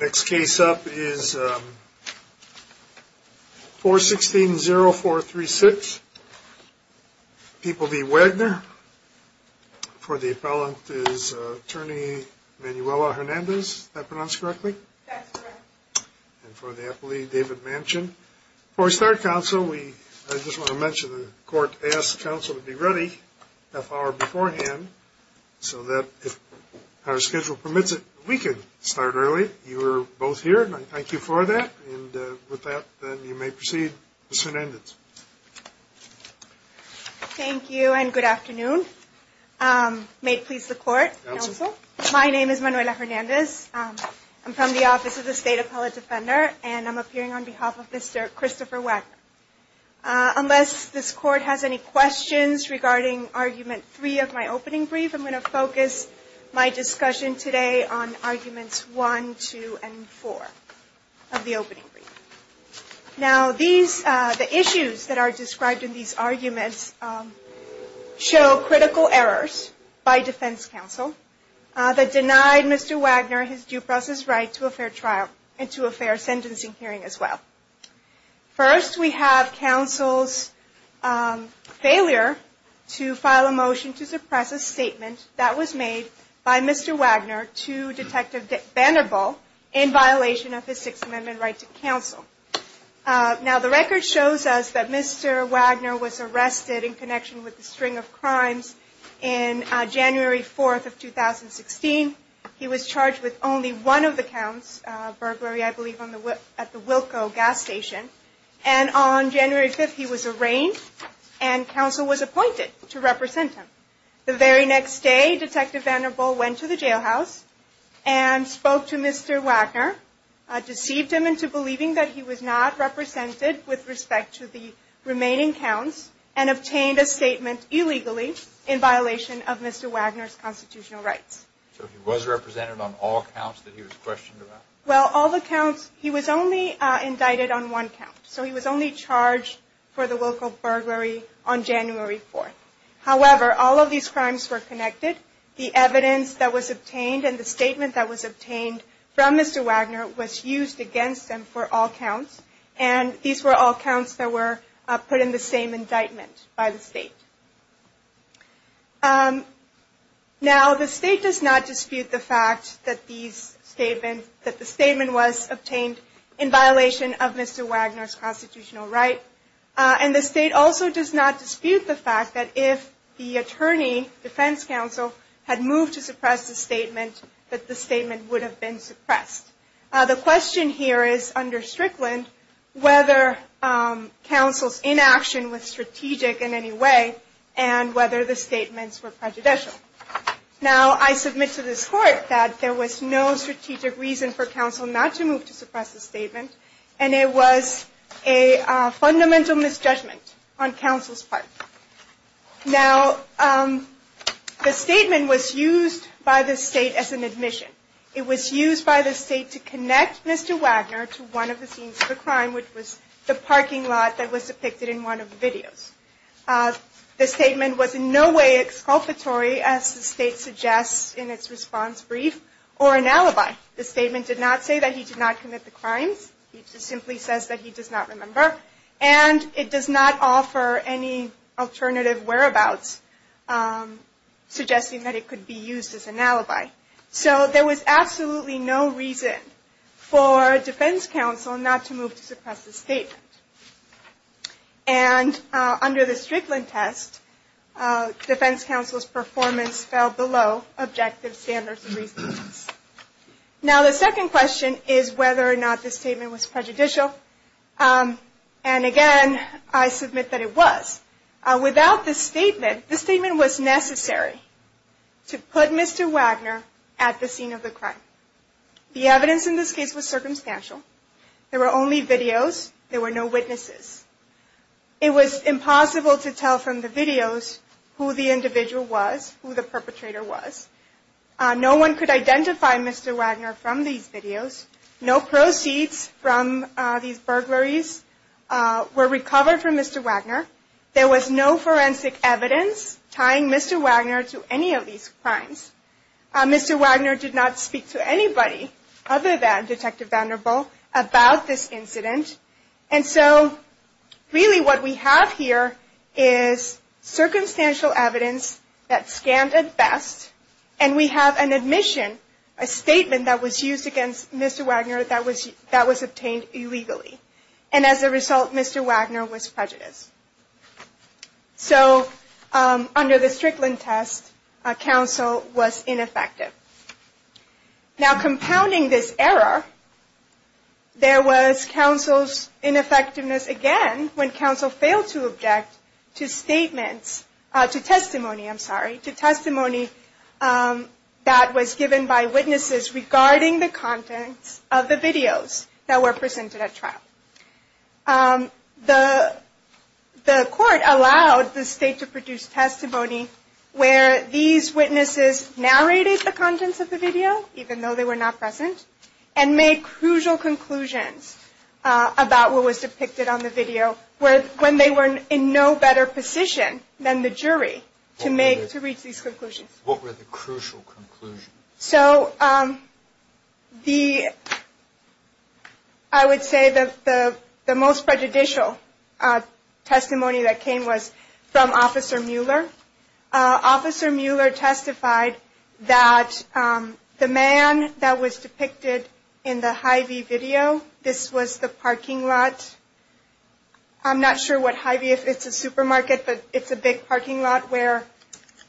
Next case up is 416-0436. People v. Wagner. For the appellant is Attorney Manuela Hernandez. Did I pronounce correctly? That's correct. And for the appellee, David Manchin. Before we start, counsel, I just want to mention the court asked counsel to be ready a half hour beforehand so that if our schedule permits it, we can start early. You are both here and I thank you for that. And with that, you may proceed, Ms. Hernandez. Thank you and good afternoon. May it please the court, counsel? My name is Manuela Hernandez. I'm from the Office of the State Appellate Defender and I'm appearing on behalf of Mr. Christopher Wagner. Unless this court has any questions regarding Argument 3 of my opening brief, I'm going to focus my discussion today on Arguments 1, 2, and 4 of the opening brief. Now, the issues that are described in these arguments show critical errors by defense counsel that denied Mr. Wagner his due process right to a fair trial and to a fair sentencing hearing as well. First, we have counsel's failure to file a motion to suppress a statement that was made by Mr. Wagner to Detective Vanderbilt in violation of his Sixth Amendment right to counsel. Now, the record shows us that Mr. Wagner was arrested in connection with a string of crimes in January 4th of 2016. He was charged with only one of the counts, burglary, I believe, at the Wilco gas station. And on January 5th, he was arraigned and counsel was appointed to represent him. The very next day, Detective Vanderbilt went to the jailhouse and spoke to Mr. Wagner, deceived him into believing that he was not represented with respect to the remaining counts, and obtained a statement illegally in violation of Mr. Wagner's constitutional rights. So he was represented on all counts that he was questioned about? Well, all the counts, he was only indicted on one count, so he was only charged for the Wilco burglary on January 4th. However, all of these crimes were connected. The evidence that was obtained and the statement that was obtained from Mr. Wagner was used against him for all counts, and these were all counts that were put in the same indictment by the state. Now, the state does not dispute the fact that the statement was obtained in violation of Mr. Wagner's constitutional right, and the state also does not dispute the fact that if the attorney, defense counsel, had moved to suppress the statement, that the statement would have been suppressed. The question here is, under Strickland, whether counsel's inaction was strategic in any way, and whether the statements were prejudicial. Now, I submit to this court that there was no strategic reason for counsel not to move to suppress the statement, and it was a fundamental misjudgment on counsel's part. Now, the statement was used by the state as an admission. It was used by the state to connect Mr. Wagner to one of the scenes of the crime, which was the parking lot that was depicted in one of the videos. The statement was in no way exculpatory, as the state suggests in its response brief, or an alibi. The statement did not say that he did not commit the crimes. It just simply says that he does not remember, and it does not offer any alternative whereabouts, suggesting that it could be used as an alibi. So there was absolutely no reason for defense counsel not to move to suppress the statement. And under the Strickland test, defense counsel's performance fell below objective standards. Now, the second question is whether or not the statement was prejudicial, and again, I submit that it was. Without the statement, the statement was necessary to put Mr. Wagner at the scene of the crime. The evidence in this case was circumstantial. There were only videos. There were no witnesses. It was impossible to tell from the videos who the individual was, who the perpetrator was. No one could identify Mr. Wagner from these videos. No proceeds from these burglaries were recovered from Mr. Wagner. There was no forensic evidence tying Mr. Wagner to any of these crimes. Mr. Wagner did not speak to anybody other than Detective Vanderbilt about this incident, and so really what we have here is circumstantial evidence that scanned at best, and we have an admission, a statement that was used against Mr. Wagner that was obtained illegally. And as a result, Mr. Wagner was prejudiced. So under the Strickland test, counsel was ineffective. Now, compounding this error, there was counsel's ineffectiveness again when counsel failed to object to statements, to testimony, I'm sorry, to testimony that was given by witnesses regarding the contents of the videos that were presented at trial. The court allowed the state to produce testimony where these witnesses narrated the contents of the video, even though they were not present, and made crucial conclusions about what was depicted on the video when they were in no better position than the jury to make, to reach these conclusions. What were the crucial conclusions? So the, I would say that the most prejudicial testimony that came was from Officer Mueller. Officer Mueller testified that the man that was depicted in the Hy-Vee video, this was the parking lot, I'm not sure what Hy-Vee is, it's a supermarket, but it's a big parking lot where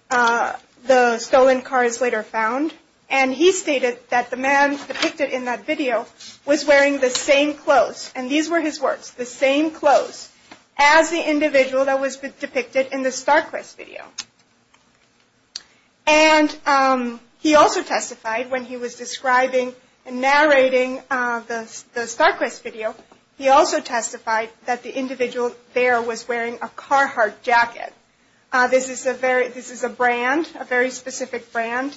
the stolen car is later found. And he stated that the man depicted in that video was wearing the same clothes, and these were his words, the same clothes, as the individual that was depicted in the Starquest video. And he also testified when he was describing and narrating the Starquest video, he also testified that the individual there was wearing a Carhartt jacket. This is a very, this is a brand, a very specific brand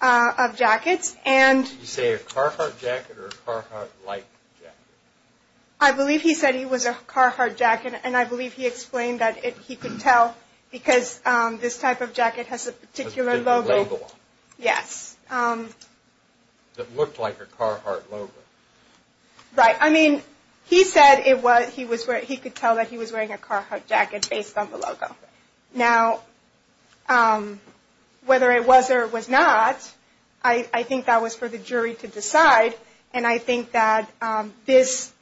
of jackets, and... Did he say a Carhartt jacket or a Carhartt-like jacket? I believe he said he was a Carhartt jacket, and I believe he explained that he could tell because this type of jacket has a particular logo. Has a different logo on it. Yes. That looked like a Carhartt logo. Right, I mean, he said it was, he could tell that he was wearing a Carhartt jacket based on the logo. Now, whether it was or was not, I think that was for the jury to decide, and I think that this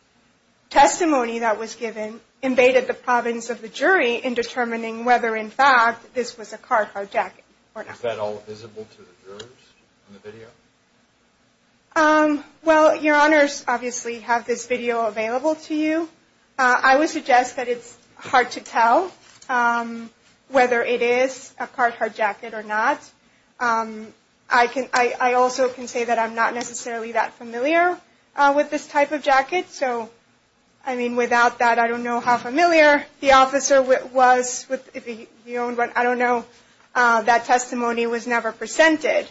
testimony that was given invaded the province of the jury in determining whether in fact this was a Carhartt jacket or not. Is that all visible to the jurors in the video? Well, your honors obviously have this video available to you. I would suggest that it's hard to tell whether it is a Carhartt jacket or not. I can, I also can say that I'm not necessarily that familiar with this type of jacket. So, I mean, without that, I don't know how familiar the officer was with the, you know, I don't know, that testimony was never presented.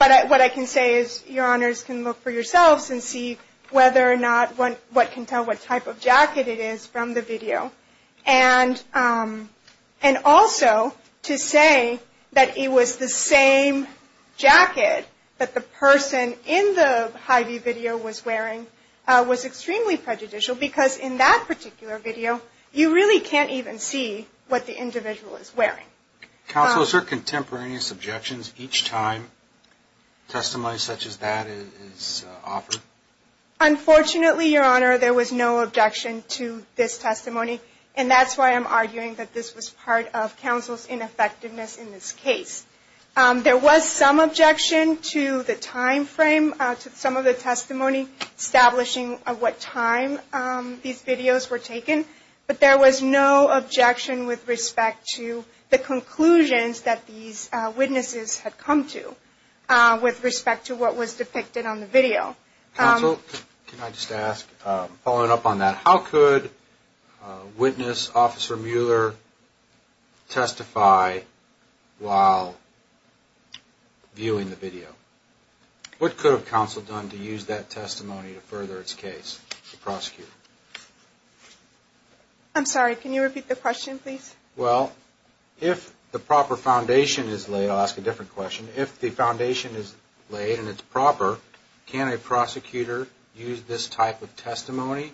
But what I can say is your honors can look for yourselves and see whether or not, what can tell what type of jacket it is from the video. And also to say that it was the same jacket that the person in the Hy-Vee video was wearing was extremely prejudicial because in that particular video, you really can't even see what the individual is wearing. Counsel, is there contemporaneous objections each time testimony such as that is offered? Unfortunately, your honor, there was no objection to this testimony, and that's why I'm arguing that this was part of counsel's ineffectiveness in this case. There was some objection to the time frame, to some of the testimony establishing what time these videos were taken. But there was no objection with respect to the conclusions that these witnesses had come to with respect to what was depicted on the video. Counsel, can I just ask, following up on that, how could witness Officer Mueller testify while viewing the video? What could have counsel done to use that testimony to further its case, the prosecutor? I'm sorry, can you repeat the question, please? Well, if the proper foundation is laid, I'll ask a different question. If the foundation is laid and it's proper, can a prosecutor use this type of testimony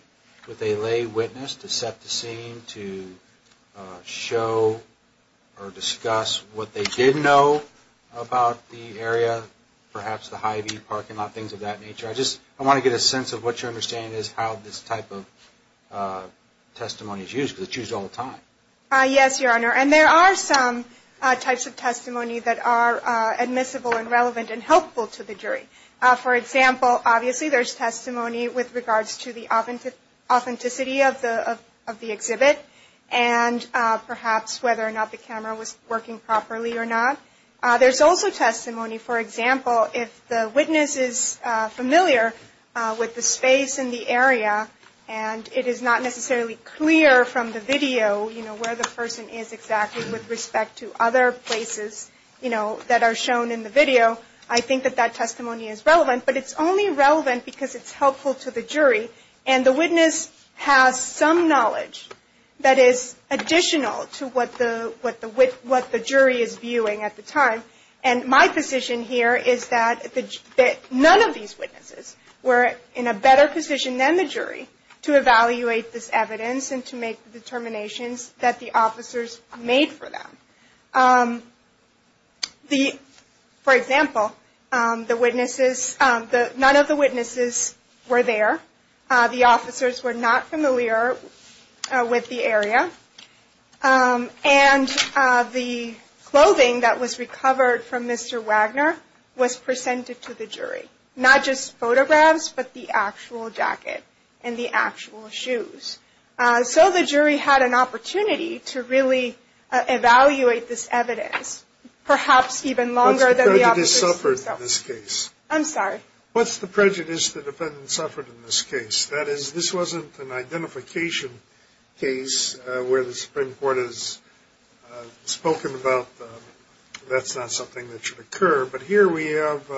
with a lay witness to set the scene, to show or discuss what they did know about the area, perhaps the Hy-Vee parking lot, things of that nature? I want to get a sense of what your understanding is of how this type of testimony is used because it's used all the time. Yes, Your Honor, and there are some types of testimony that are admissible and relevant and helpful to the jury. For example, obviously there's testimony with regards to the authenticity of the exhibit and perhaps whether or not the camera was working properly or not. There's also testimony, for example, if the witness is familiar with the space in the area and it is not necessarily clear from the video where the person is exactly with respect to other places that are shown in the video, I think that that testimony is relevant. But it's only relevant because it's helpful to the jury and the witness has some knowledge that is additional to what the jury is viewing at the time. And my position here is that none of these witnesses were in a better position than the jury to evaluate this evidence and to make the determinations that the officers made for them. For example, none of the witnesses were there, the officers were not familiar with the area, and the clothing that was recovered from Mr. Wagner was presented to the jury. Not just photographs, but the actual jacket and the actual shoes. So the jury had an opportunity to really evaluate this evidence, perhaps even longer than the officers. What's the prejudice the defendant suffered in this case? I'm sorry? What's the prejudice the defendant suffered in this case? That is, this wasn't an identification case where the Supreme Court has spoken about that's not something that should occur. But here we have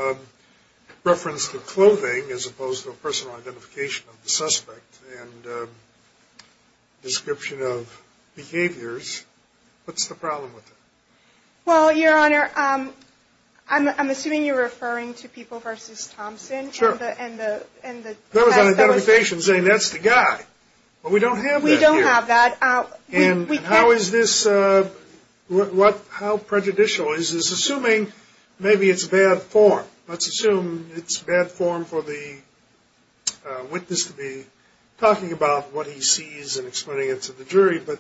reference to clothing as opposed to a personal identification of the suspect and description of behaviors. What's the problem with that? Well, Your Honor, I'm assuming you're referring to people versus Thompson. Sure. And the... That was an identification saying that's the guy. But we don't have that here. We don't have that. And how is this... How prejudicial is this? Assuming maybe it's bad form. Let's assume it's bad form for the witness to be talking about what he sees and explaining it to the jury. But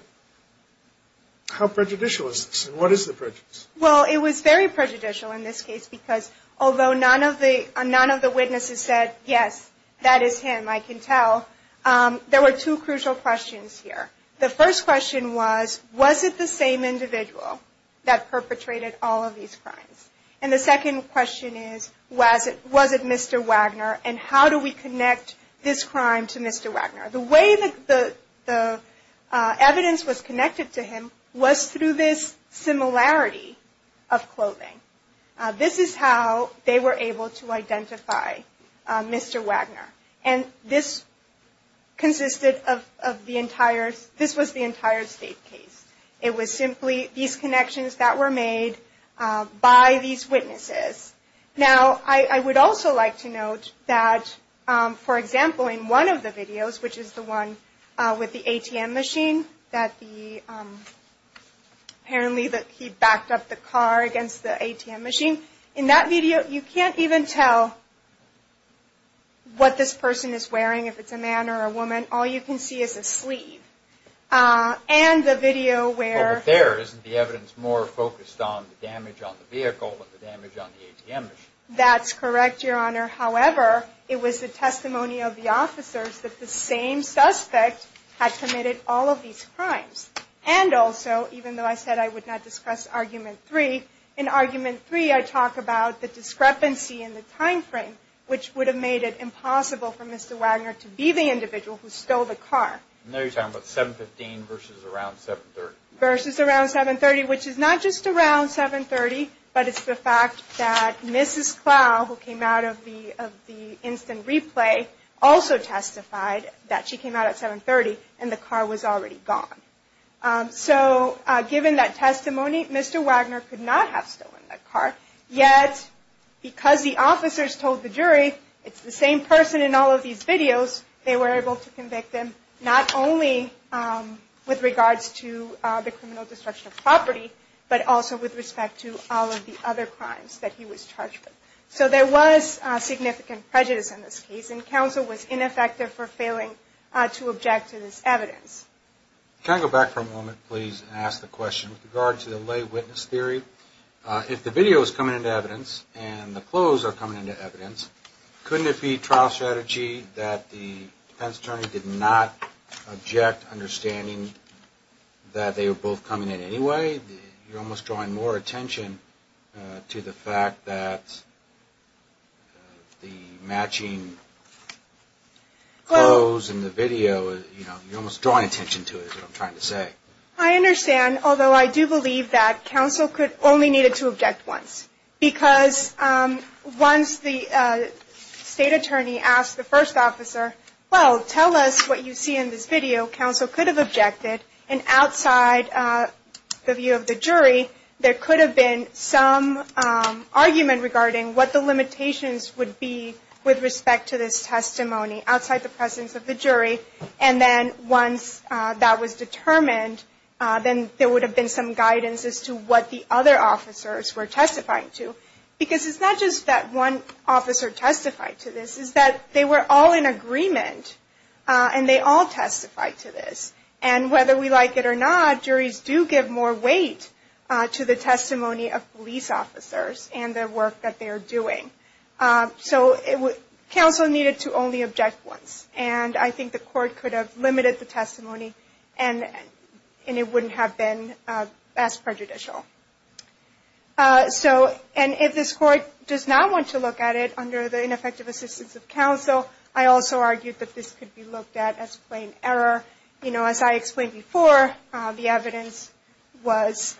how prejudicial is this? And what is the prejudice? Well, it was very prejudicial in this case because although none of the witnesses said, yes, that is him, I can tell. There were two crucial questions here. The first question was, was it the same individual that perpetrated all of these crimes? And the second question is, was it Mr. Wagner and how do we connect this crime to Mr. Wagner? The way that the evidence was connected to him was through this similarity of clothing. This is how they were able to identify Mr. Wagner. And this consisted of the entire... This was the entire state case. It was simply these connections that were made by these witnesses. Now, I would also like to note that, for example, in one of the videos, which is the one with the ATM machine, that the... Apparently he backed up the car against the ATM machine. In that video, you can't even tell what this person is wearing, if it's a man or a woman. All you can see is a sleeve. And the video where... But there, isn't the evidence more focused on the damage on the vehicle than the damage on the ATM machine? That's correct, Your Honor. However, it was the testimony of the officers that the same suspect had committed all of these crimes. And also, even though I said I would not discuss Argument 3, in Argument 3, I talk about the discrepancy in the time frame, which would have made it impossible for Mr. Wagner to be the individual who stole the car. I know you're talking about 7.15 versus around 7.30. Versus around 7.30, which is not just around 7.30, but it's the fact that Mrs. Clough, who came out of the instant replay, also testified that she came out at 7.30 and the car was already gone. So, given that testimony, Mr. Wagner could not have stolen that car. Yet, because the officers told the jury it's the same person in all of these videos, they were able to convict him, not only with regards to the criminal destruction of property, but also with respect to all of the other crimes that he was charged with. So there was significant prejudice in this case, and counsel was ineffective for failing to object to this evidence. Can I go back for a moment, please, and ask the question with regard to the lay witness theory? If the video is coming into evidence and the clothes are coming into evidence, couldn't it be trial strategy that the defense attorney did not object, understanding that they were both coming in anyway? You're almost drawing more attention to the fact that the matching clothes in the video, you're almost drawing attention to it, is what I'm trying to say. I understand, although I do believe that counsel only needed to object once, because once the state attorney asked the first officer, well, tell us what you see in this video, counsel could have objected, and outside the view of the jury, there could have been some argument regarding what the limitations would be with respect to this testimony, outside the presence of the jury, and then once that was determined, then there would have been some guidance as to what the other officers were testifying to. Because it's not just that one officer testified to this, it's that they were all in agreement, and they all testified to this. And whether we like it or not, juries do give more weight to the testimony of police officers and the work that they are doing. So counsel needed to only object once, and I think the court could have limited the testimony, and it wouldn't have been as prejudicial. And if this court does not want to look at it under the ineffective assistance of counsel, I also argued that this could be looked at as plain error. You know, as I explained before, the evidence was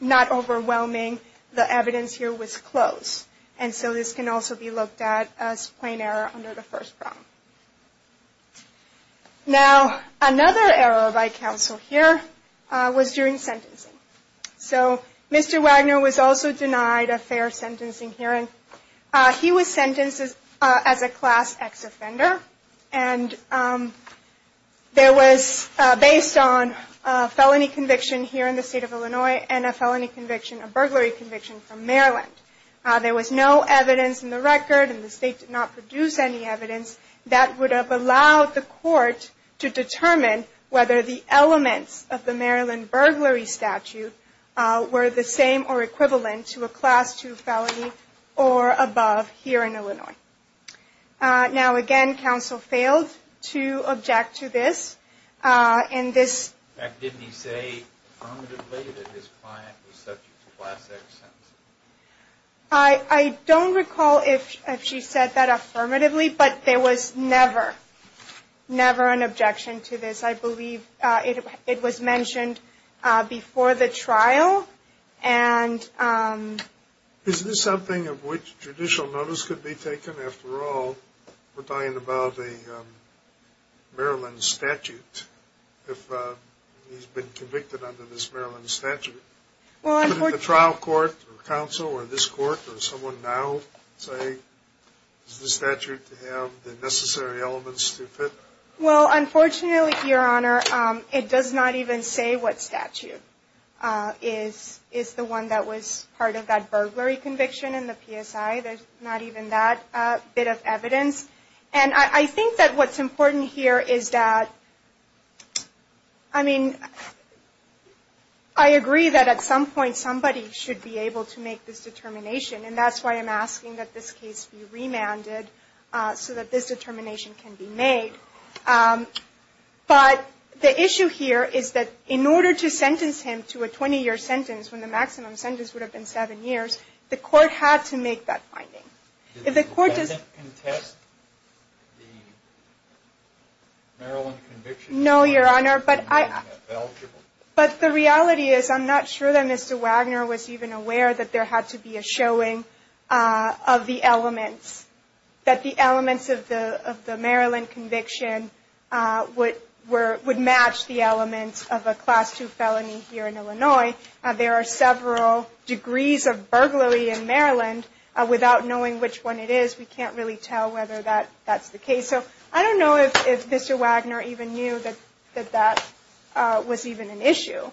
not overwhelming. The evidence here was close. And so this can also be looked at as plain error under the first problem. Now, another error by counsel here was during sentencing. So Mr. Wagner was also denied a fair sentencing hearing. He was sentenced as a Class X offender, and that was based on a felony conviction here in the state of Illinois and a felony conviction, a burglary conviction from Maryland. There was no evidence in the record, and the state did not produce any evidence that would have allowed the court to determine whether the elements of the Maryland burglary statute were the same or equivalent to a Class II felony or above here in Illinois. Now, again, counsel failed to object to this. In fact, didn't he say affirmatively that his client was subject to Class X sentencing? I don't recall if she said that affirmatively, but there was never, never an objection to this. I believe it was mentioned before the trial. Is this something of which judicial notice could be taken? After all, we're talking about a Maryland statute. He's been convicted under this Maryland statute. Could the trial court or counsel or this court or someone now say, does the statute have the necessary elements to fit? Well, unfortunately, Your Honor, it does not even say what statute. It's the one that was part of that burglary conviction in the PSI. There's not even that bit of evidence. And I think that what's important here is that, I mean, I agree that at some point, somebody should be able to make this determination, and that's why I'm asking that this case be remanded so that this determination can be made. But the issue here is that in order to sentence him to a 20-year sentence, when the maximum sentence would have been seven years, the court had to make that finding. Did the defendant contest the Maryland conviction? No, Your Honor, but the reality is I'm not sure that Mr. Wagner was even aware that there had to be a showing of the elements, that the elements of the Maryland conviction would match the elements of a Class II felony here in Illinois. There are several degrees of burglary in Maryland. Without knowing which one it is, we can't really tell whether that's the case. So I don't know if Mr. Wagner even knew that that was even an issue. You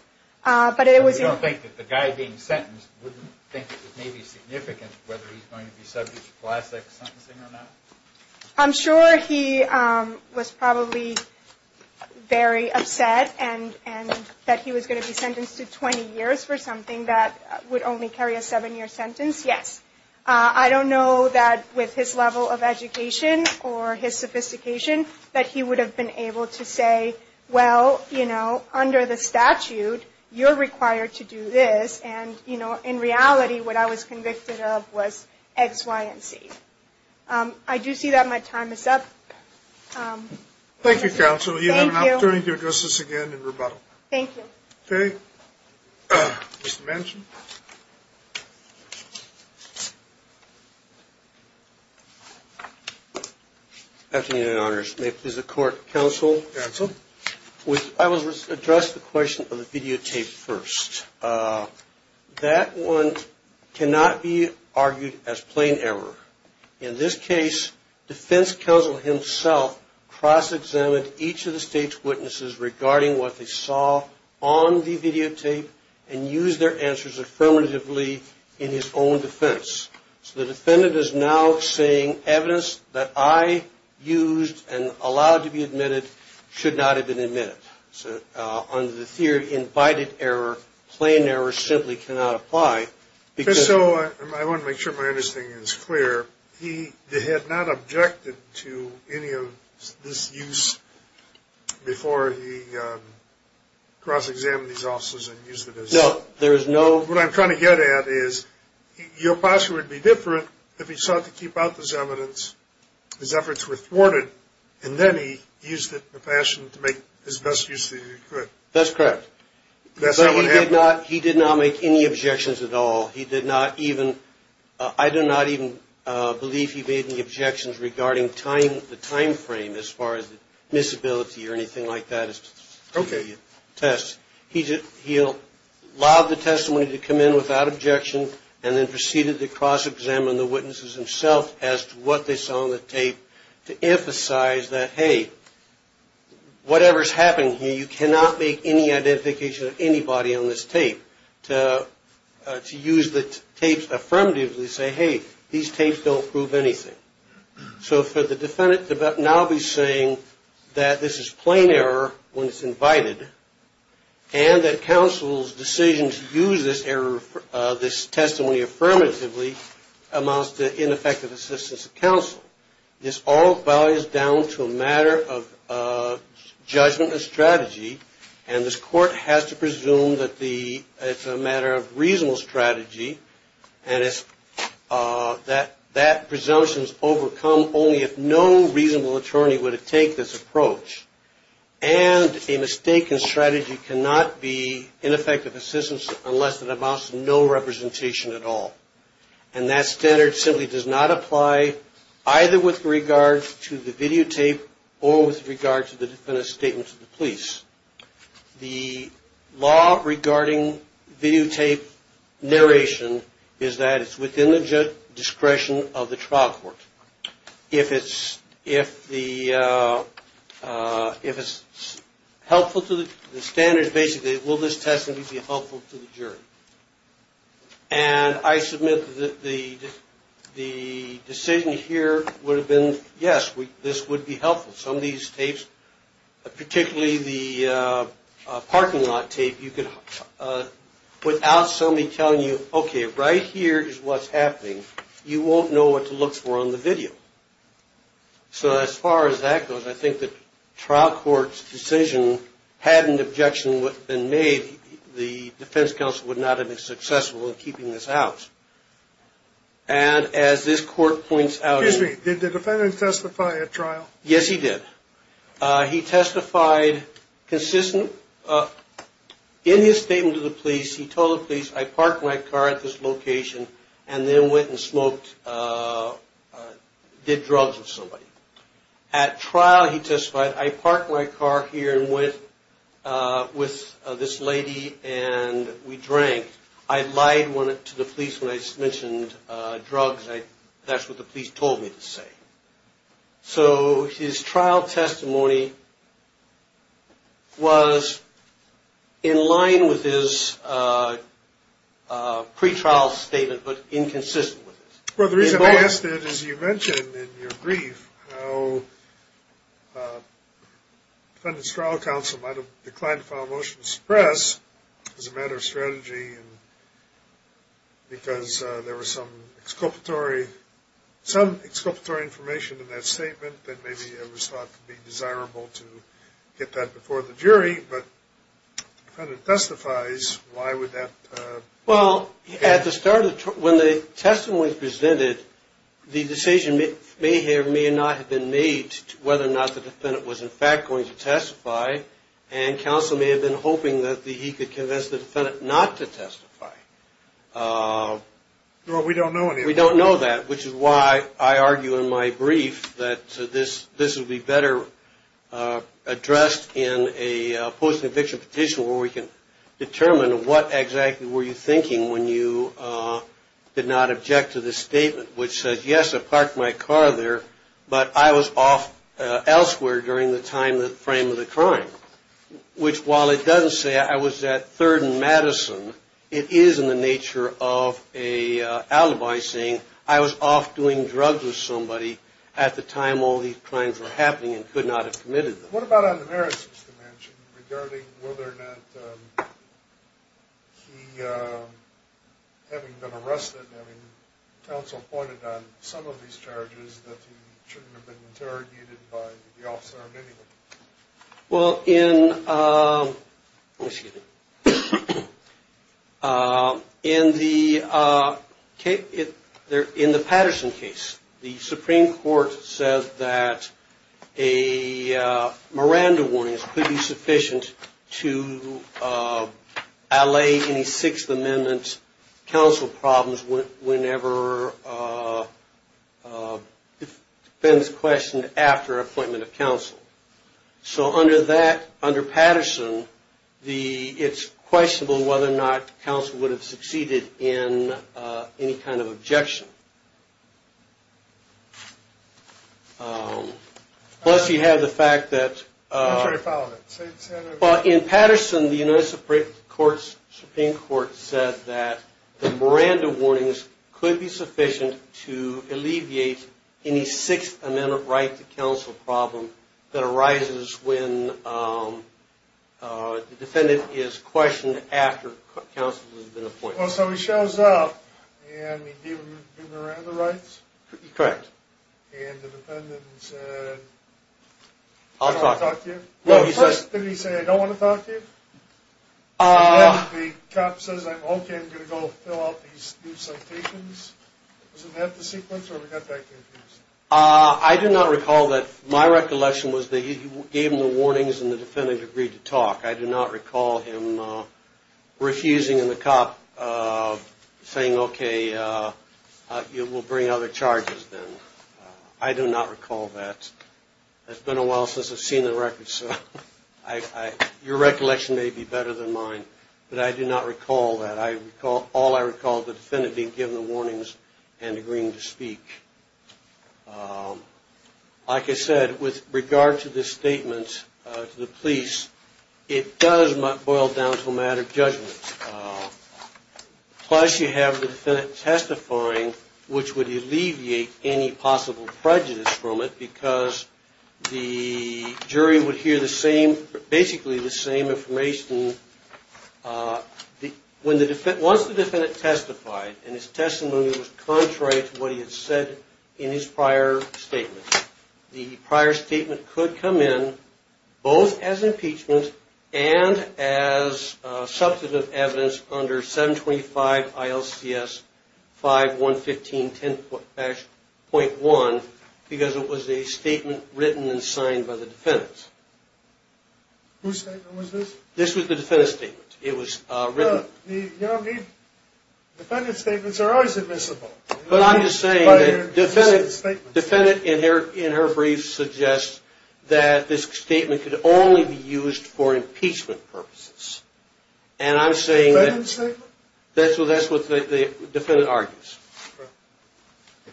don't think that the guy being sentenced wouldn't think that it may be significant whether he's going to be subject to Class X sentencing or not? I'm sure he was probably very upset that he was going to be sentenced to 20 years for something that would only carry a seven-year sentence, yes. I don't know that with his level of education or his sophistication that he would have been able to say, well, you know, under the statute, you're required to do this. And, you know, in reality, what I was convicted of was X, Y, and Z. I do see that my time is up. Thank you, counsel. Thank you. You have an opportunity to address this again in rebuttal. Thank you. Okay. Mr. Manchin. Afternoon, Your Honors. May it please the court. Counsel. Counsel. I will address the question of the videotape first. That one cannot be argued as plain error. In this case, defense counsel himself cross-examined each of the state's witnesses regarding what they saw on the videotape and used their answers affirmatively in his own defense. So the defendant is now saying evidence that I used and allowed to be admitted should not have been admitted. So under the theory of invited error, plain error simply cannot apply. So I want to make sure my understanding is clear. He had not objected to any of this use before he cross-examined these officers and used it as... No, there is no... What I'm trying to get at is your posture would be different if he sought to keep out this evidence, his efforts were thwarted, and then he used it in a fashion to make his best use of it as he could. That's correct. That's how it happened. But he did not make any objections at all. He did not even... I do not even believe he made any objections regarding the time frame as far as the disability or anything like that. Okay. He allowed the testimony to come in without objection and then proceeded to cross-examine the witnesses himself as to what they saw on the tape to emphasize that, hey, whatever's happening here, you cannot make any identification of anybody on this tape, to use the tapes affirmatively to say, hey, these tapes don't prove anything. So for the defendant to now be saying that this is plain error when it's invited and that counsel's decision to use this error, this testimony affirmatively, amounts to ineffective assistance of counsel. This all boils down to a matter of judgment and strategy, and this court has to presume that it's a matter of reasonable strategy and that presumption is overcome only if no reasonable attorney were to take this approach. And a mistake in strategy cannot be ineffective assistance unless it amounts to no representation at all. And that standard simply does not apply either with regard to the videotape or with regard to the defendant's statement to the police. The law regarding videotape narration is that it's within the discretion of the trial court. If it's helpful to the standards, basically, will this testimony be helpful to the jury? And I submit that the decision here would have been, yes, this would be helpful. Some of these tapes, particularly the parking lot tape, you could, without somebody telling you, okay, right here is what's happening, you won't know what to look for on the video. So as far as that goes, I think the trial court's decision, had an objection been made, the defense counsel would not have been successful in keeping this out. And as this court points out in the- Excuse me, did the defendant testify at trial? Yes, he did. He testified consistent. In his statement to the police, he told the police, I parked my car at this location and then went and smoked, did drugs with somebody. At trial, he testified, I parked my car here and went with this lady and we drank. I lied to the police when I mentioned drugs, that's what the police told me to say. So his trial testimony was in line with his pretrial statement, but inconsistent with it. Well, the reason I ask that is you mentioned in your brief how the defendant's trial counsel might have declined to file a motion to suppress as a matter of strategy because there was some exculpatory information in that statement that maybe it was thought to be desirable to get that before the jury, but the defendant testifies, why would that- Well, at the start, when the testimony was presented, the decision may or may not have been made whether or not the defendant was in fact going to testify, and counsel may have been hoping that he could convince the defendant not to testify. Well, we don't know any of that. We don't know that, which is why I argue in my brief that this would be better addressed in a post-conviction petition where we can determine what exactly were you thinking when you did not object to the statement, which says, yes, I parked my car there, but I was off elsewhere during the time, the frame of the crime, which while it doesn't say I was at 3rd and Madison, it is in the nature of an alibi saying I was off doing drugs with somebody at the time all these crimes were happening and could not have committed them. What about on the merits, Mr. Manchin, regarding whether or not he, having been arrested, having counsel pointed on some of these charges, that he shouldn't have been interrogated by the officer or anyone? Well, in the Patterson case, the Supreme Court says that a Miranda warning is pretty sufficient to allay any Sixth Amendment counsel problems whenever the defendant is questioned after appointment of counsel. So under Patterson, it's questionable whether or not counsel would have succeeded in any kind of objection. Plus you have the fact that in Patterson, the United Supreme Court said that the Miranda warnings could be sufficient to alleviate any Sixth Amendment right to counsel problem that arises when the defendant is questioned after counsel has been appointed. Well, so he shows up and he gave him the Miranda rights? Correct. And the defendant said, I don't want to talk to you? No, he says... First, did he say, I don't want to talk to you? Uh... And then the cop says, okay, I'm going to go fill out these new citations? Was that the sequence or did he get that confused? I do not recall that. My recollection was that he gave him the warnings and the defendant agreed to talk. I do not recall him refusing and the cop saying, okay, we'll bring other charges then. I do not recall that. It's been a while since I've seen the records. Your recollection may be better than mine, but I do not recall that. All I recall is the defendant being given the warnings and agreeing to speak. Like I said, with regard to this statement to the police, it does boil down to a matter of judgment. Plus, you have the defendant testifying, which would alleviate any possible prejudice from it because the jury would hear basically the same information. Once the defendant testified and his testimony was contrary to what he had said in his prior statement, the prior statement could come in both as impeachment and as substantive evidence under 725 ILCS 5115-10.1 because it was a statement written and signed by the defendant. Whose statement was this? This was the defendant's statement. It was written. The defendant's statements are always admissible. But I'm just saying that the defendant in her brief suggests that this statement could only be used for impeachment purposes. And I'm saying that's what the defendant argues.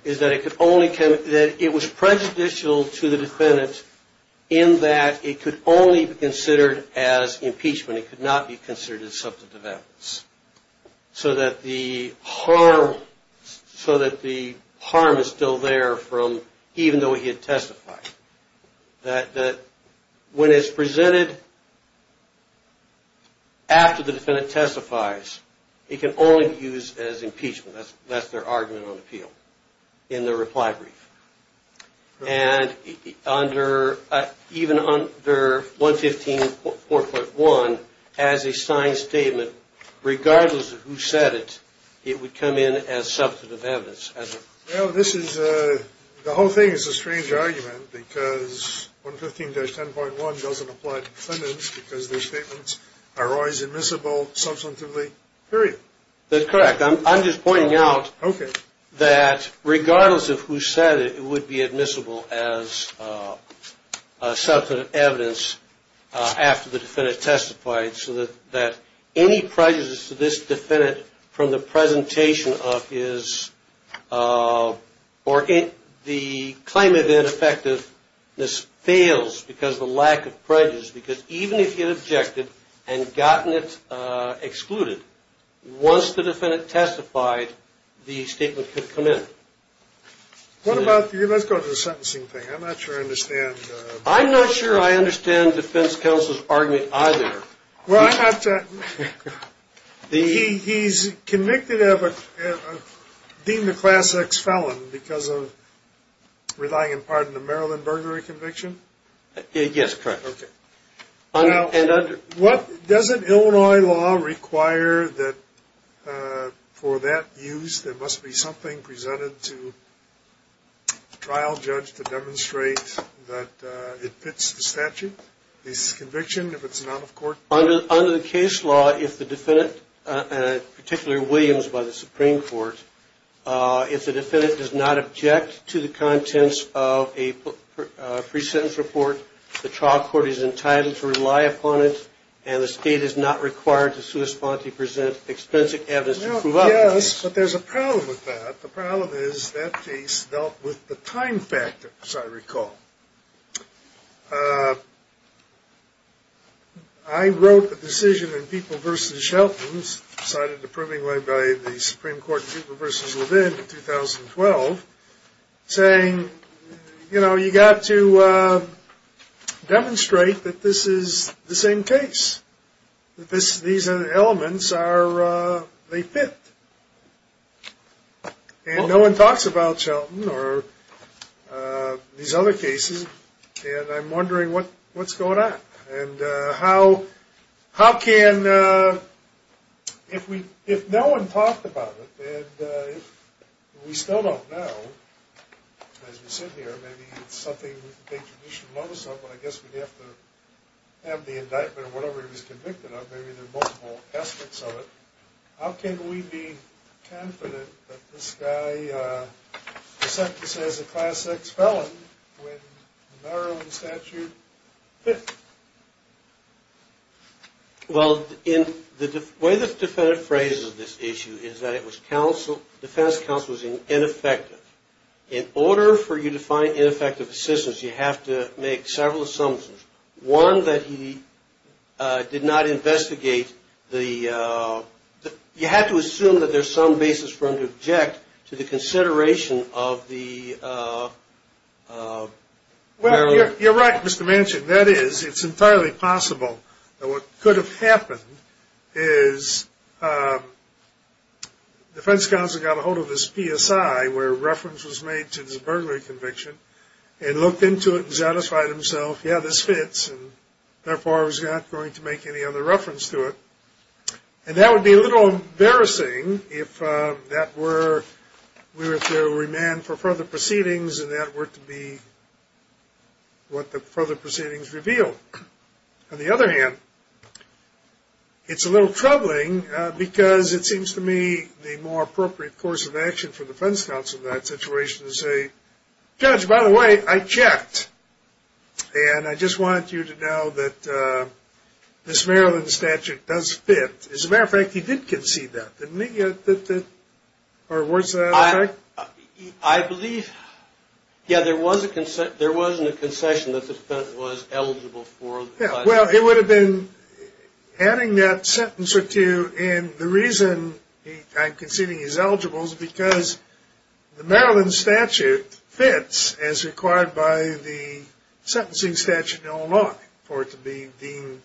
It was prejudicial to the defendant in that it could only be considered as impeachment. It could not be considered as substantive evidence so that the harm is still there even though he had testified. When it's presented after the defendant testifies, it can only be used as impeachment. That's their argument on appeal in their reply brief. And even under 115.4.1, as a signed statement, regardless of who said it, it would come in as substantive evidence. The whole thing is a strange argument because 115-10.1 doesn't apply to defendants because their statements are always admissible substantively, period. That's correct. I'm just pointing out that regardless of who said it, it would be admissible as substantive evidence after the defendant testified so that any prejudices to this defendant from the presentation of his or the claim of ineffectiveness fails because of the lack of prejudice. Because even if you objected and gotten it excluded, once the defendant testified, the statement could come in. Let's go to the sentencing thing. I'm not sure I understand. I'm not sure I understand defense counsel's argument either. He's convicted of a deemed a class X felon because of relying in part on the Maryland burglary conviction? Yes, correct. Now, doesn't Illinois law require that for that use there must be something presented to a trial judge to demonstrate that it fits the statute, this conviction, if it's not of court? Yes, but there's a problem with that. The problem is that case dealt with the time factor, as I recall. I wrote a decision in People v. Shelton, cited in the proving led by the Supreme Court in People v. Levin in 2012, saying, you know, you've got to demonstrate that this is the same case, that these elements, they fit. And no one talks about Shelton or these other cases, and I'm wondering what's going on. And how can, if no one talked about it, and we still don't know, as we sit here, maybe it's something we should notice, but I guess we'd have to have the indictment of whatever he was convicted of. Maybe there are multiple aspects of it. How can we be confident that this guy is sentenced as a class X felon when the Maryland statute fits? Well, in the way the defendant phrases this issue is that it was counsel, defense counsel, was ineffective. In order for you to find ineffective assistance, you have to make several assumptions. One, that he did not investigate the, you have to assume that there's some basis for him to object to the consideration of the Maryland. You're right, Mr. Manchin, that is, it's entirely possible that what could have happened is defense counsel got a hold of his PSI, where reference was made to this burglary conviction, and looked into it and satisfied himself, yeah, this fits, and therefore I was not going to make any other reference to it. And that would be a little embarrassing if that were, we were to remand for further proceedings and that were to be what the further proceedings reveal. On the other hand, it's a little troubling because it seems to me the more appropriate course of action for defense counsel in that situation is to say, Judge, by the way, I checked, and I just want you to know that this Maryland statute does fit. As a matter of fact, he did concede that, didn't he, or was that a fact? I believe, yeah, there was a concession, there was a concession that the defendant was eligible for. Well, it would have been adding that sentence or two, and the reason I'm conceding he's eligible is because the Maryland statute fits as required by the sentencing statute in Illinois for it to be deemed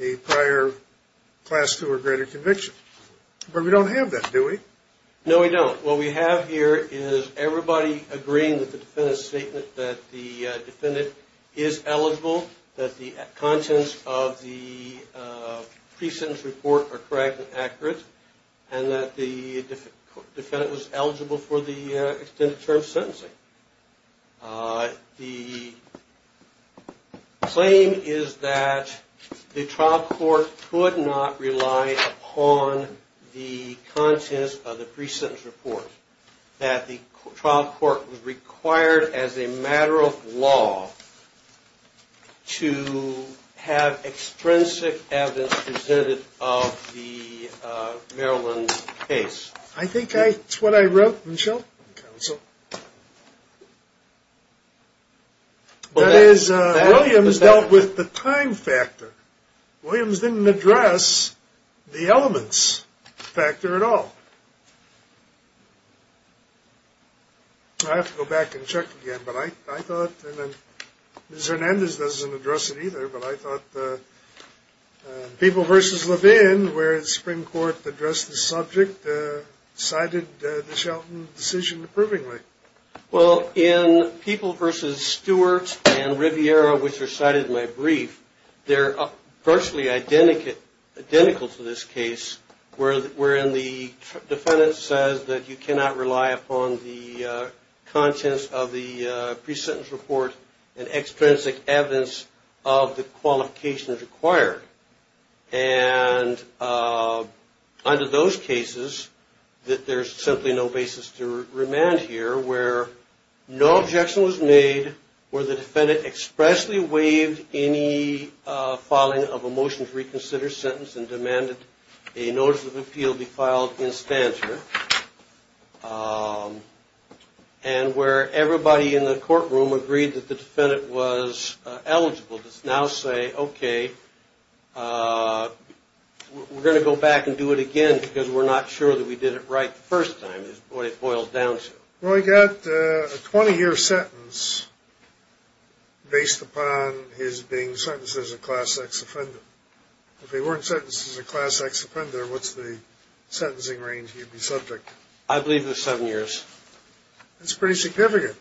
a prior Class II or greater conviction. But we don't have that, do we? No, we don't. What we have here is everybody agreeing with the defendant's statement that the defendant is eligible, that the contents of the pre-sentence report are correct and accurate, and that the defendant was eligible for the extended term sentencing. The claim is that the trial court could not rely upon the contents of the pre-sentence report, that the trial court was required as a matter of law to have extrinsic evidence presented of the Maryland case. I think that's what I wrote, Michelle. That is, Williams dealt with the time factor. Williams didn't address the elements factor at all. I have to go back and check again, but I thought, and then Ms. Hernandez doesn't address it either, but I thought People v. Levin, where the Supreme Court addressed the subject, cited the Shelton decision approvingly. Well, in People v. Stewart and Riviera, which are cited in my brief, they're virtually identical to this case, wherein the defendant says that you cannot rely upon the contents of the pre-sentence report and extrinsic evidence of the qualifications required. And under those cases, that there's simply no basis to remand here, where no objection was made, where the defendant expressly waived any filing of a motion to reconsider sentence and demanded a notice of appeal be filed in stanter, and where everybody in the courtroom agreed that the defendant was eligible to now say, okay, we're going to go back and do it again because we're not sure that we did it right the first time is what it boils down to. Well, he got a 20-year sentence based upon his being sentenced as a Class X offender. If he weren't sentenced as a Class X offender, what's the sentencing range he'd be subject to? I believe it's seven years. That's pretty significant.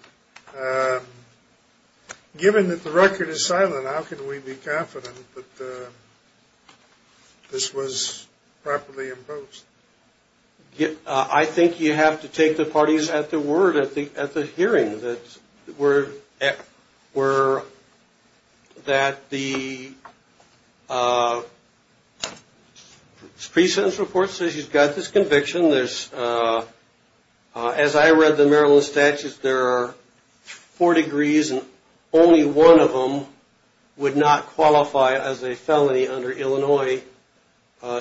Given that the record is silent, how can we be confident that this was properly imposed? I think you have to take the parties at the word at the hearing that the pre-sentence report says he's got this conviction. As I read the Maryland statutes, there are four degrees, and only one of them would not qualify as a felony under Illinois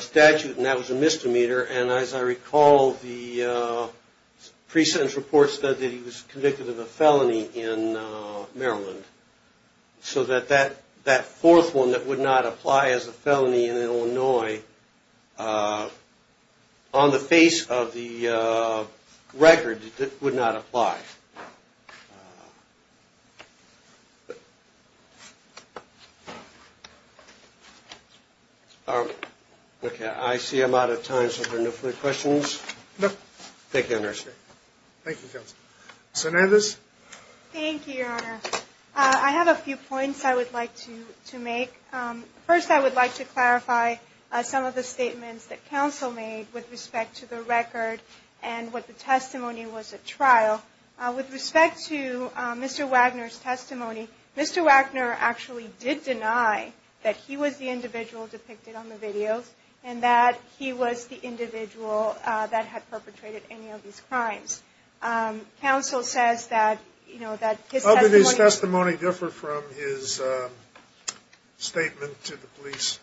statute, and that was a misdemeanor, and as I recall, the pre-sentence report said that he was convicted of a felony in Maryland. So that that fourth one that would not apply as a felony in Illinois, on the face of the record, would not apply. Okay, I see I'm out of time, so are there no further questions? Thank you, Your Honor. Thank you, Counsel. Ms. Hernandez? Thank you, Your Honor. I have a few points I would like to make. First, I would like to clarify some of the statements that counsel made with respect to the record and what the testimony was at trial. With respect to Mr. Wagner's testimony, Mr. Wagner actually did deny that he was the individual depicted on the videos and that he was the individual that had perpetrated any of these crimes. Counsel says that, you know, that his testimony... How did his testimony differ from his statement to the police?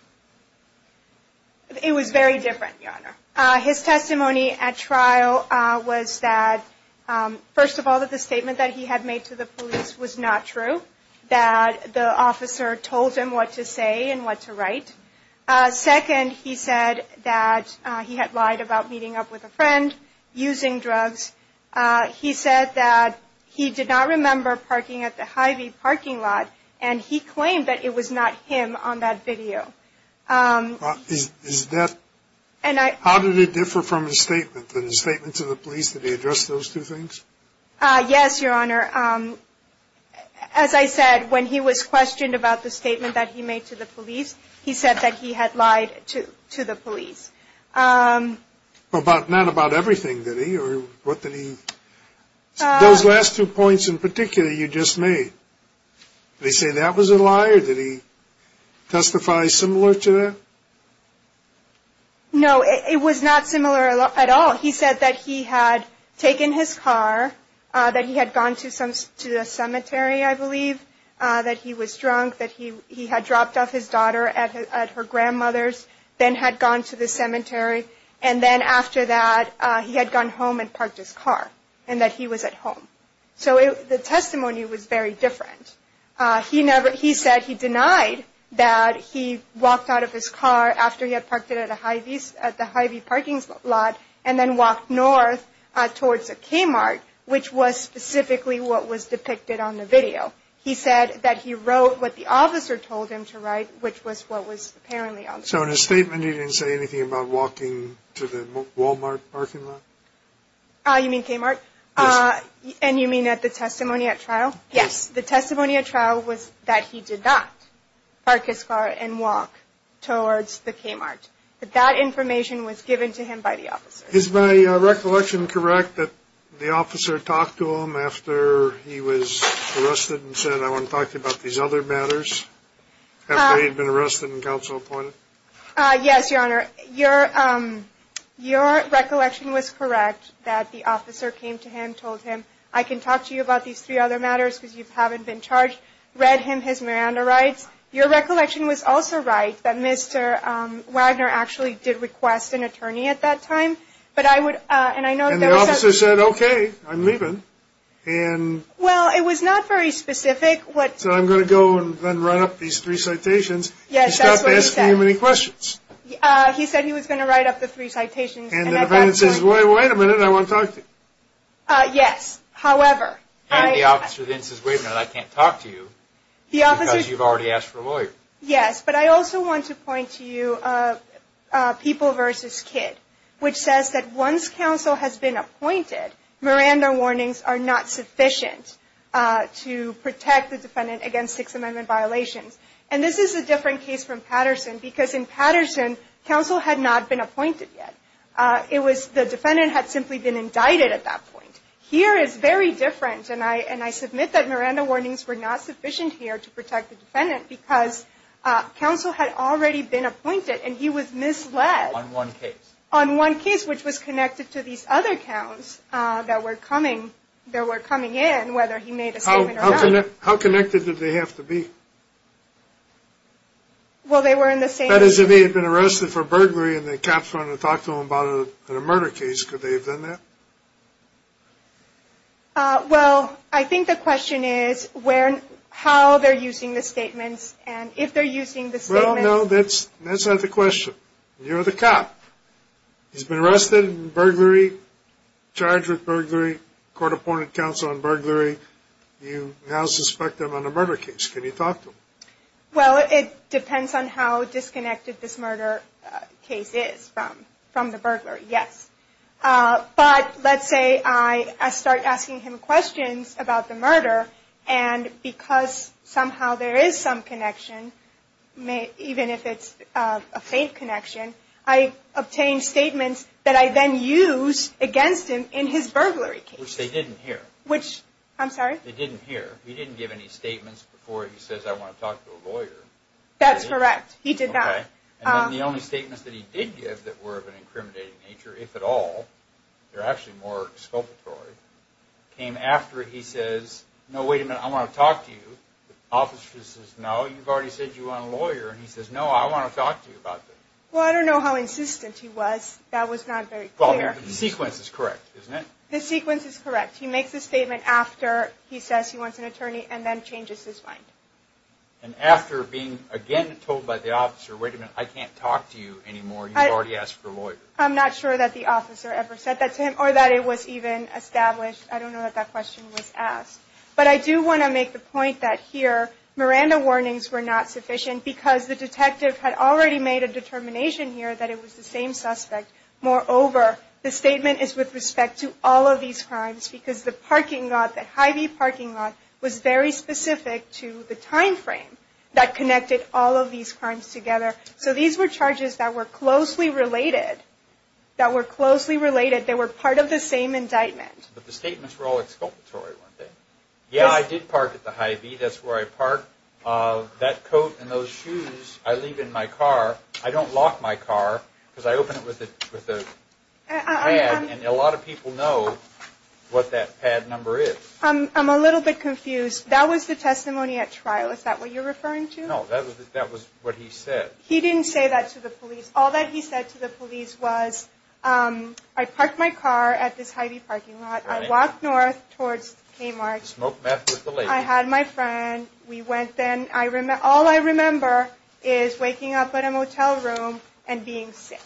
It was very different, Your Honor. His testimony at trial was that, first of all, that the statement that he had made to the police was not true, that the officer told him what to say and what to write. Second, he said that he had lied about meeting up with a friend, using drugs. He said that he did not remember parking at the Hy-Vee parking lot, and he claimed that it was not him on that video. Is that... And I... How did it differ from his statement? Did the statement to the police, did he address those two things? Yes, Your Honor. As I said, when he was questioned about the statement that he made to the police, he said that he had lied to the police. But not about everything, did he? Or what did he... Those last two points in particular you just made, did he say that was a lie or did he testify similar to that? No, it was not similar at all. He said that he had taken his car, that he had gone to a cemetery, I believe, that he was drunk, that he had dropped off his daughter at her grandmother's, then had gone to the cemetery, and then after that, he had gone home and parked his car, and that he was at home. So the testimony was very different. He said he denied that he walked out of his car after he had parked it at the Hy-Vee parking lot and then walked north towards the K-Mart, which was specifically what was depicted on the video. He said that he wrote what the officer told him to write, which was what was apparently on the video. So in his statement, he didn't say anything about walking to the Walmart parking lot? You mean K-Mart? Yes. And you mean at the testimony at trial? Yes. The testimony at trial was that he did not park his car and walk towards the K-Mart, but that information was given to him by the officer. Is my recollection correct that the officer talked to him after he was arrested and said, I want to talk to you about these other matters, after he had been arrested and counsel appointed? Yes, Your Honor. Your recollection was correct that the officer came to him, told him, I can talk to you about these three other matters because you haven't been charged, read him his Miranda rights. Your recollection was also right that Mr. Wagner actually did request an attorney at that time. And the officer said, okay, I'm leaving. Well, it was not very specific. So I'm going to go and then run up these three citations. Yes, that's what he said. He said he was going to write up the three citations. And the defendant says, wait a minute, I want to talk to you. Yes, however. And the officer then says, wait a minute, I can't talk to you because you've already asked for a lawyer. Yes, but I also want to point to you People v. Kidd, which says that once counsel has been appointed, Miranda warnings are not sufficient to protect the defendant against Sixth Amendment violations. And this is a different case from Patterson because in Patterson, counsel had not been appointed yet. It was the defendant had simply been indicted at that point. Here it's very different. And I submit that Miranda warnings were not sufficient here to protect the defendant because counsel had already been appointed and he was misled. On one case. On one case, which was connected to these other counts that were coming in, whether he made a statement or not. How connected did they have to be? Well, they were in the same. That is, if he had been arrested for burglary and the cops wanted to talk to him about a murder case, could they have done that? Well, I think the question is how they're using the statements and if they're using the statements. Well, no, that's not the question. You're the cop. He's been arrested in burglary, charged with burglary, court appointed counsel on burglary. You now suspect him on a murder case. Can you talk to him? Well, it depends on how disconnected this murder case is from the burglary. Yes. But let's say I start asking him questions about the murder and because somehow there is some connection, even if it's a faint connection, I obtain statements that I then use against him in his burglary case. Which they didn't hear. Which, I'm sorry? They didn't hear. He didn't give any statements before he says, I want to talk to a lawyer. That's correct. He did not. Okay. And then the only statements that he did give that were of an incriminating nature, if at all, they're actually more expulsory, came after he says, no, wait a minute, I want to talk to you. The officer says, no, you've already said you want a lawyer. And he says, no, I want to talk to you about this. Well, I don't know how insistent he was. That was not very clear. Well, the sequence is correct, isn't it? The sequence is correct. He makes a statement after he says he wants an attorney and then changes his mind. And after being, again, told by the officer, wait a minute, I can't talk to you anymore, you've already asked for a lawyer. I'm not sure that the officer ever said that to him or that it was even established. I don't know that that question was asked. But I do want to make the point that here, Miranda warnings were not sufficient because the detective had already made a determination here that it was the same suspect. Moreover, the statement is with respect to all of these crimes because the parking lot, the Hy-Vee parking lot, was very specific to the time frame that connected all of these crimes together. So these were charges that were closely related, that were closely related, they were part of the same indictment. But the statements were all exculpatory, weren't they? Yeah, I did park at the Hy-Vee. That's where I park. That coat and those shoes I leave in my car. I don't lock my car because I open it with a pad and a lot of people know what that pad number is. I'm a little bit confused. That was the testimony at trial, is that what you're referring to? No, that was what he said. He didn't say that to the police. All that he said to the police was, I parked my car at this Hy-Vee parking lot, I walked north towards Kmart, I had my friend, all I remember is waking up in a motel room and being sick.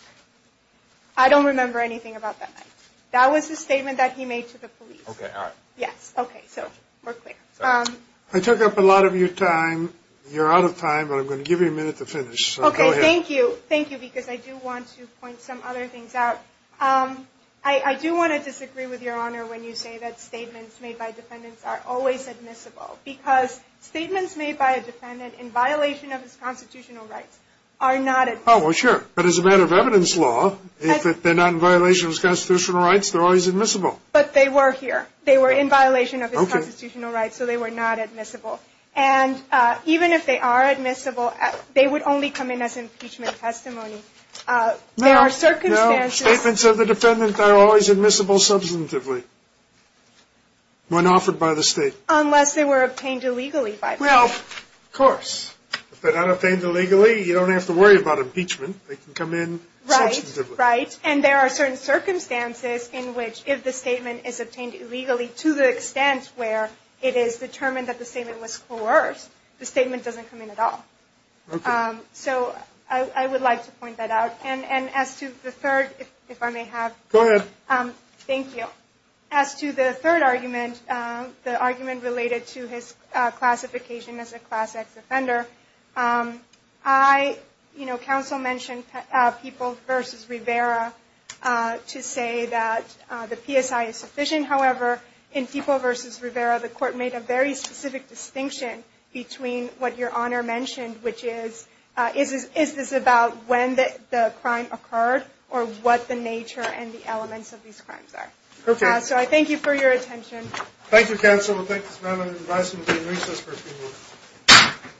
I don't remember anything about that night. That was the statement that he made to the police. Okay, all right. Yes, okay, so we're clear. I took up a lot of your time. You're out of time, but I'm going to give you a minute to finish, so go ahead. Okay, thank you, thank you, because I do want to point some other things out. I do want to disagree with Your Honor when you say that statements made by defendants are always admissible because statements made by a defendant in violation of his constitutional rights are not admissible. Oh, well, sure, but as a matter of evidence law, if they're not in violation of his constitutional rights, they're always admissible. But they were here. They were in violation of his constitutional rights, so they were not admissible. And even if they are admissible, they would only come in as impeachment testimony. There are circumstances. No, statements of the defendant are always admissible substantively when offered by the state. Unless they were obtained illegally by the state. Well, of course. If they're not obtained illegally, you don't have to worry about impeachment. They can come in substantively. Right, right, and there are certain circumstances in which if the statement is obtained illegally to the extent where it is determined that the statement was coerced, the statement doesn't come in at all. Okay. So I would like to point that out. And as to the third, if I may have. Go ahead. Thank you. As to the third argument, the argument related to his classification as a Class X offender, I, you know, counsel mentioned People v. Rivera to say that the PSI is sufficient. However, in People v. Rivera, the court made a very specific distinction between what your Honor mentioned, which is, is this about when the crime occurred or what the nature and the elements of these crimes are? Okay. So I thank you for your attention. Thank you, counsel. We'll take this moment and advise him to be in recess for a few minutes.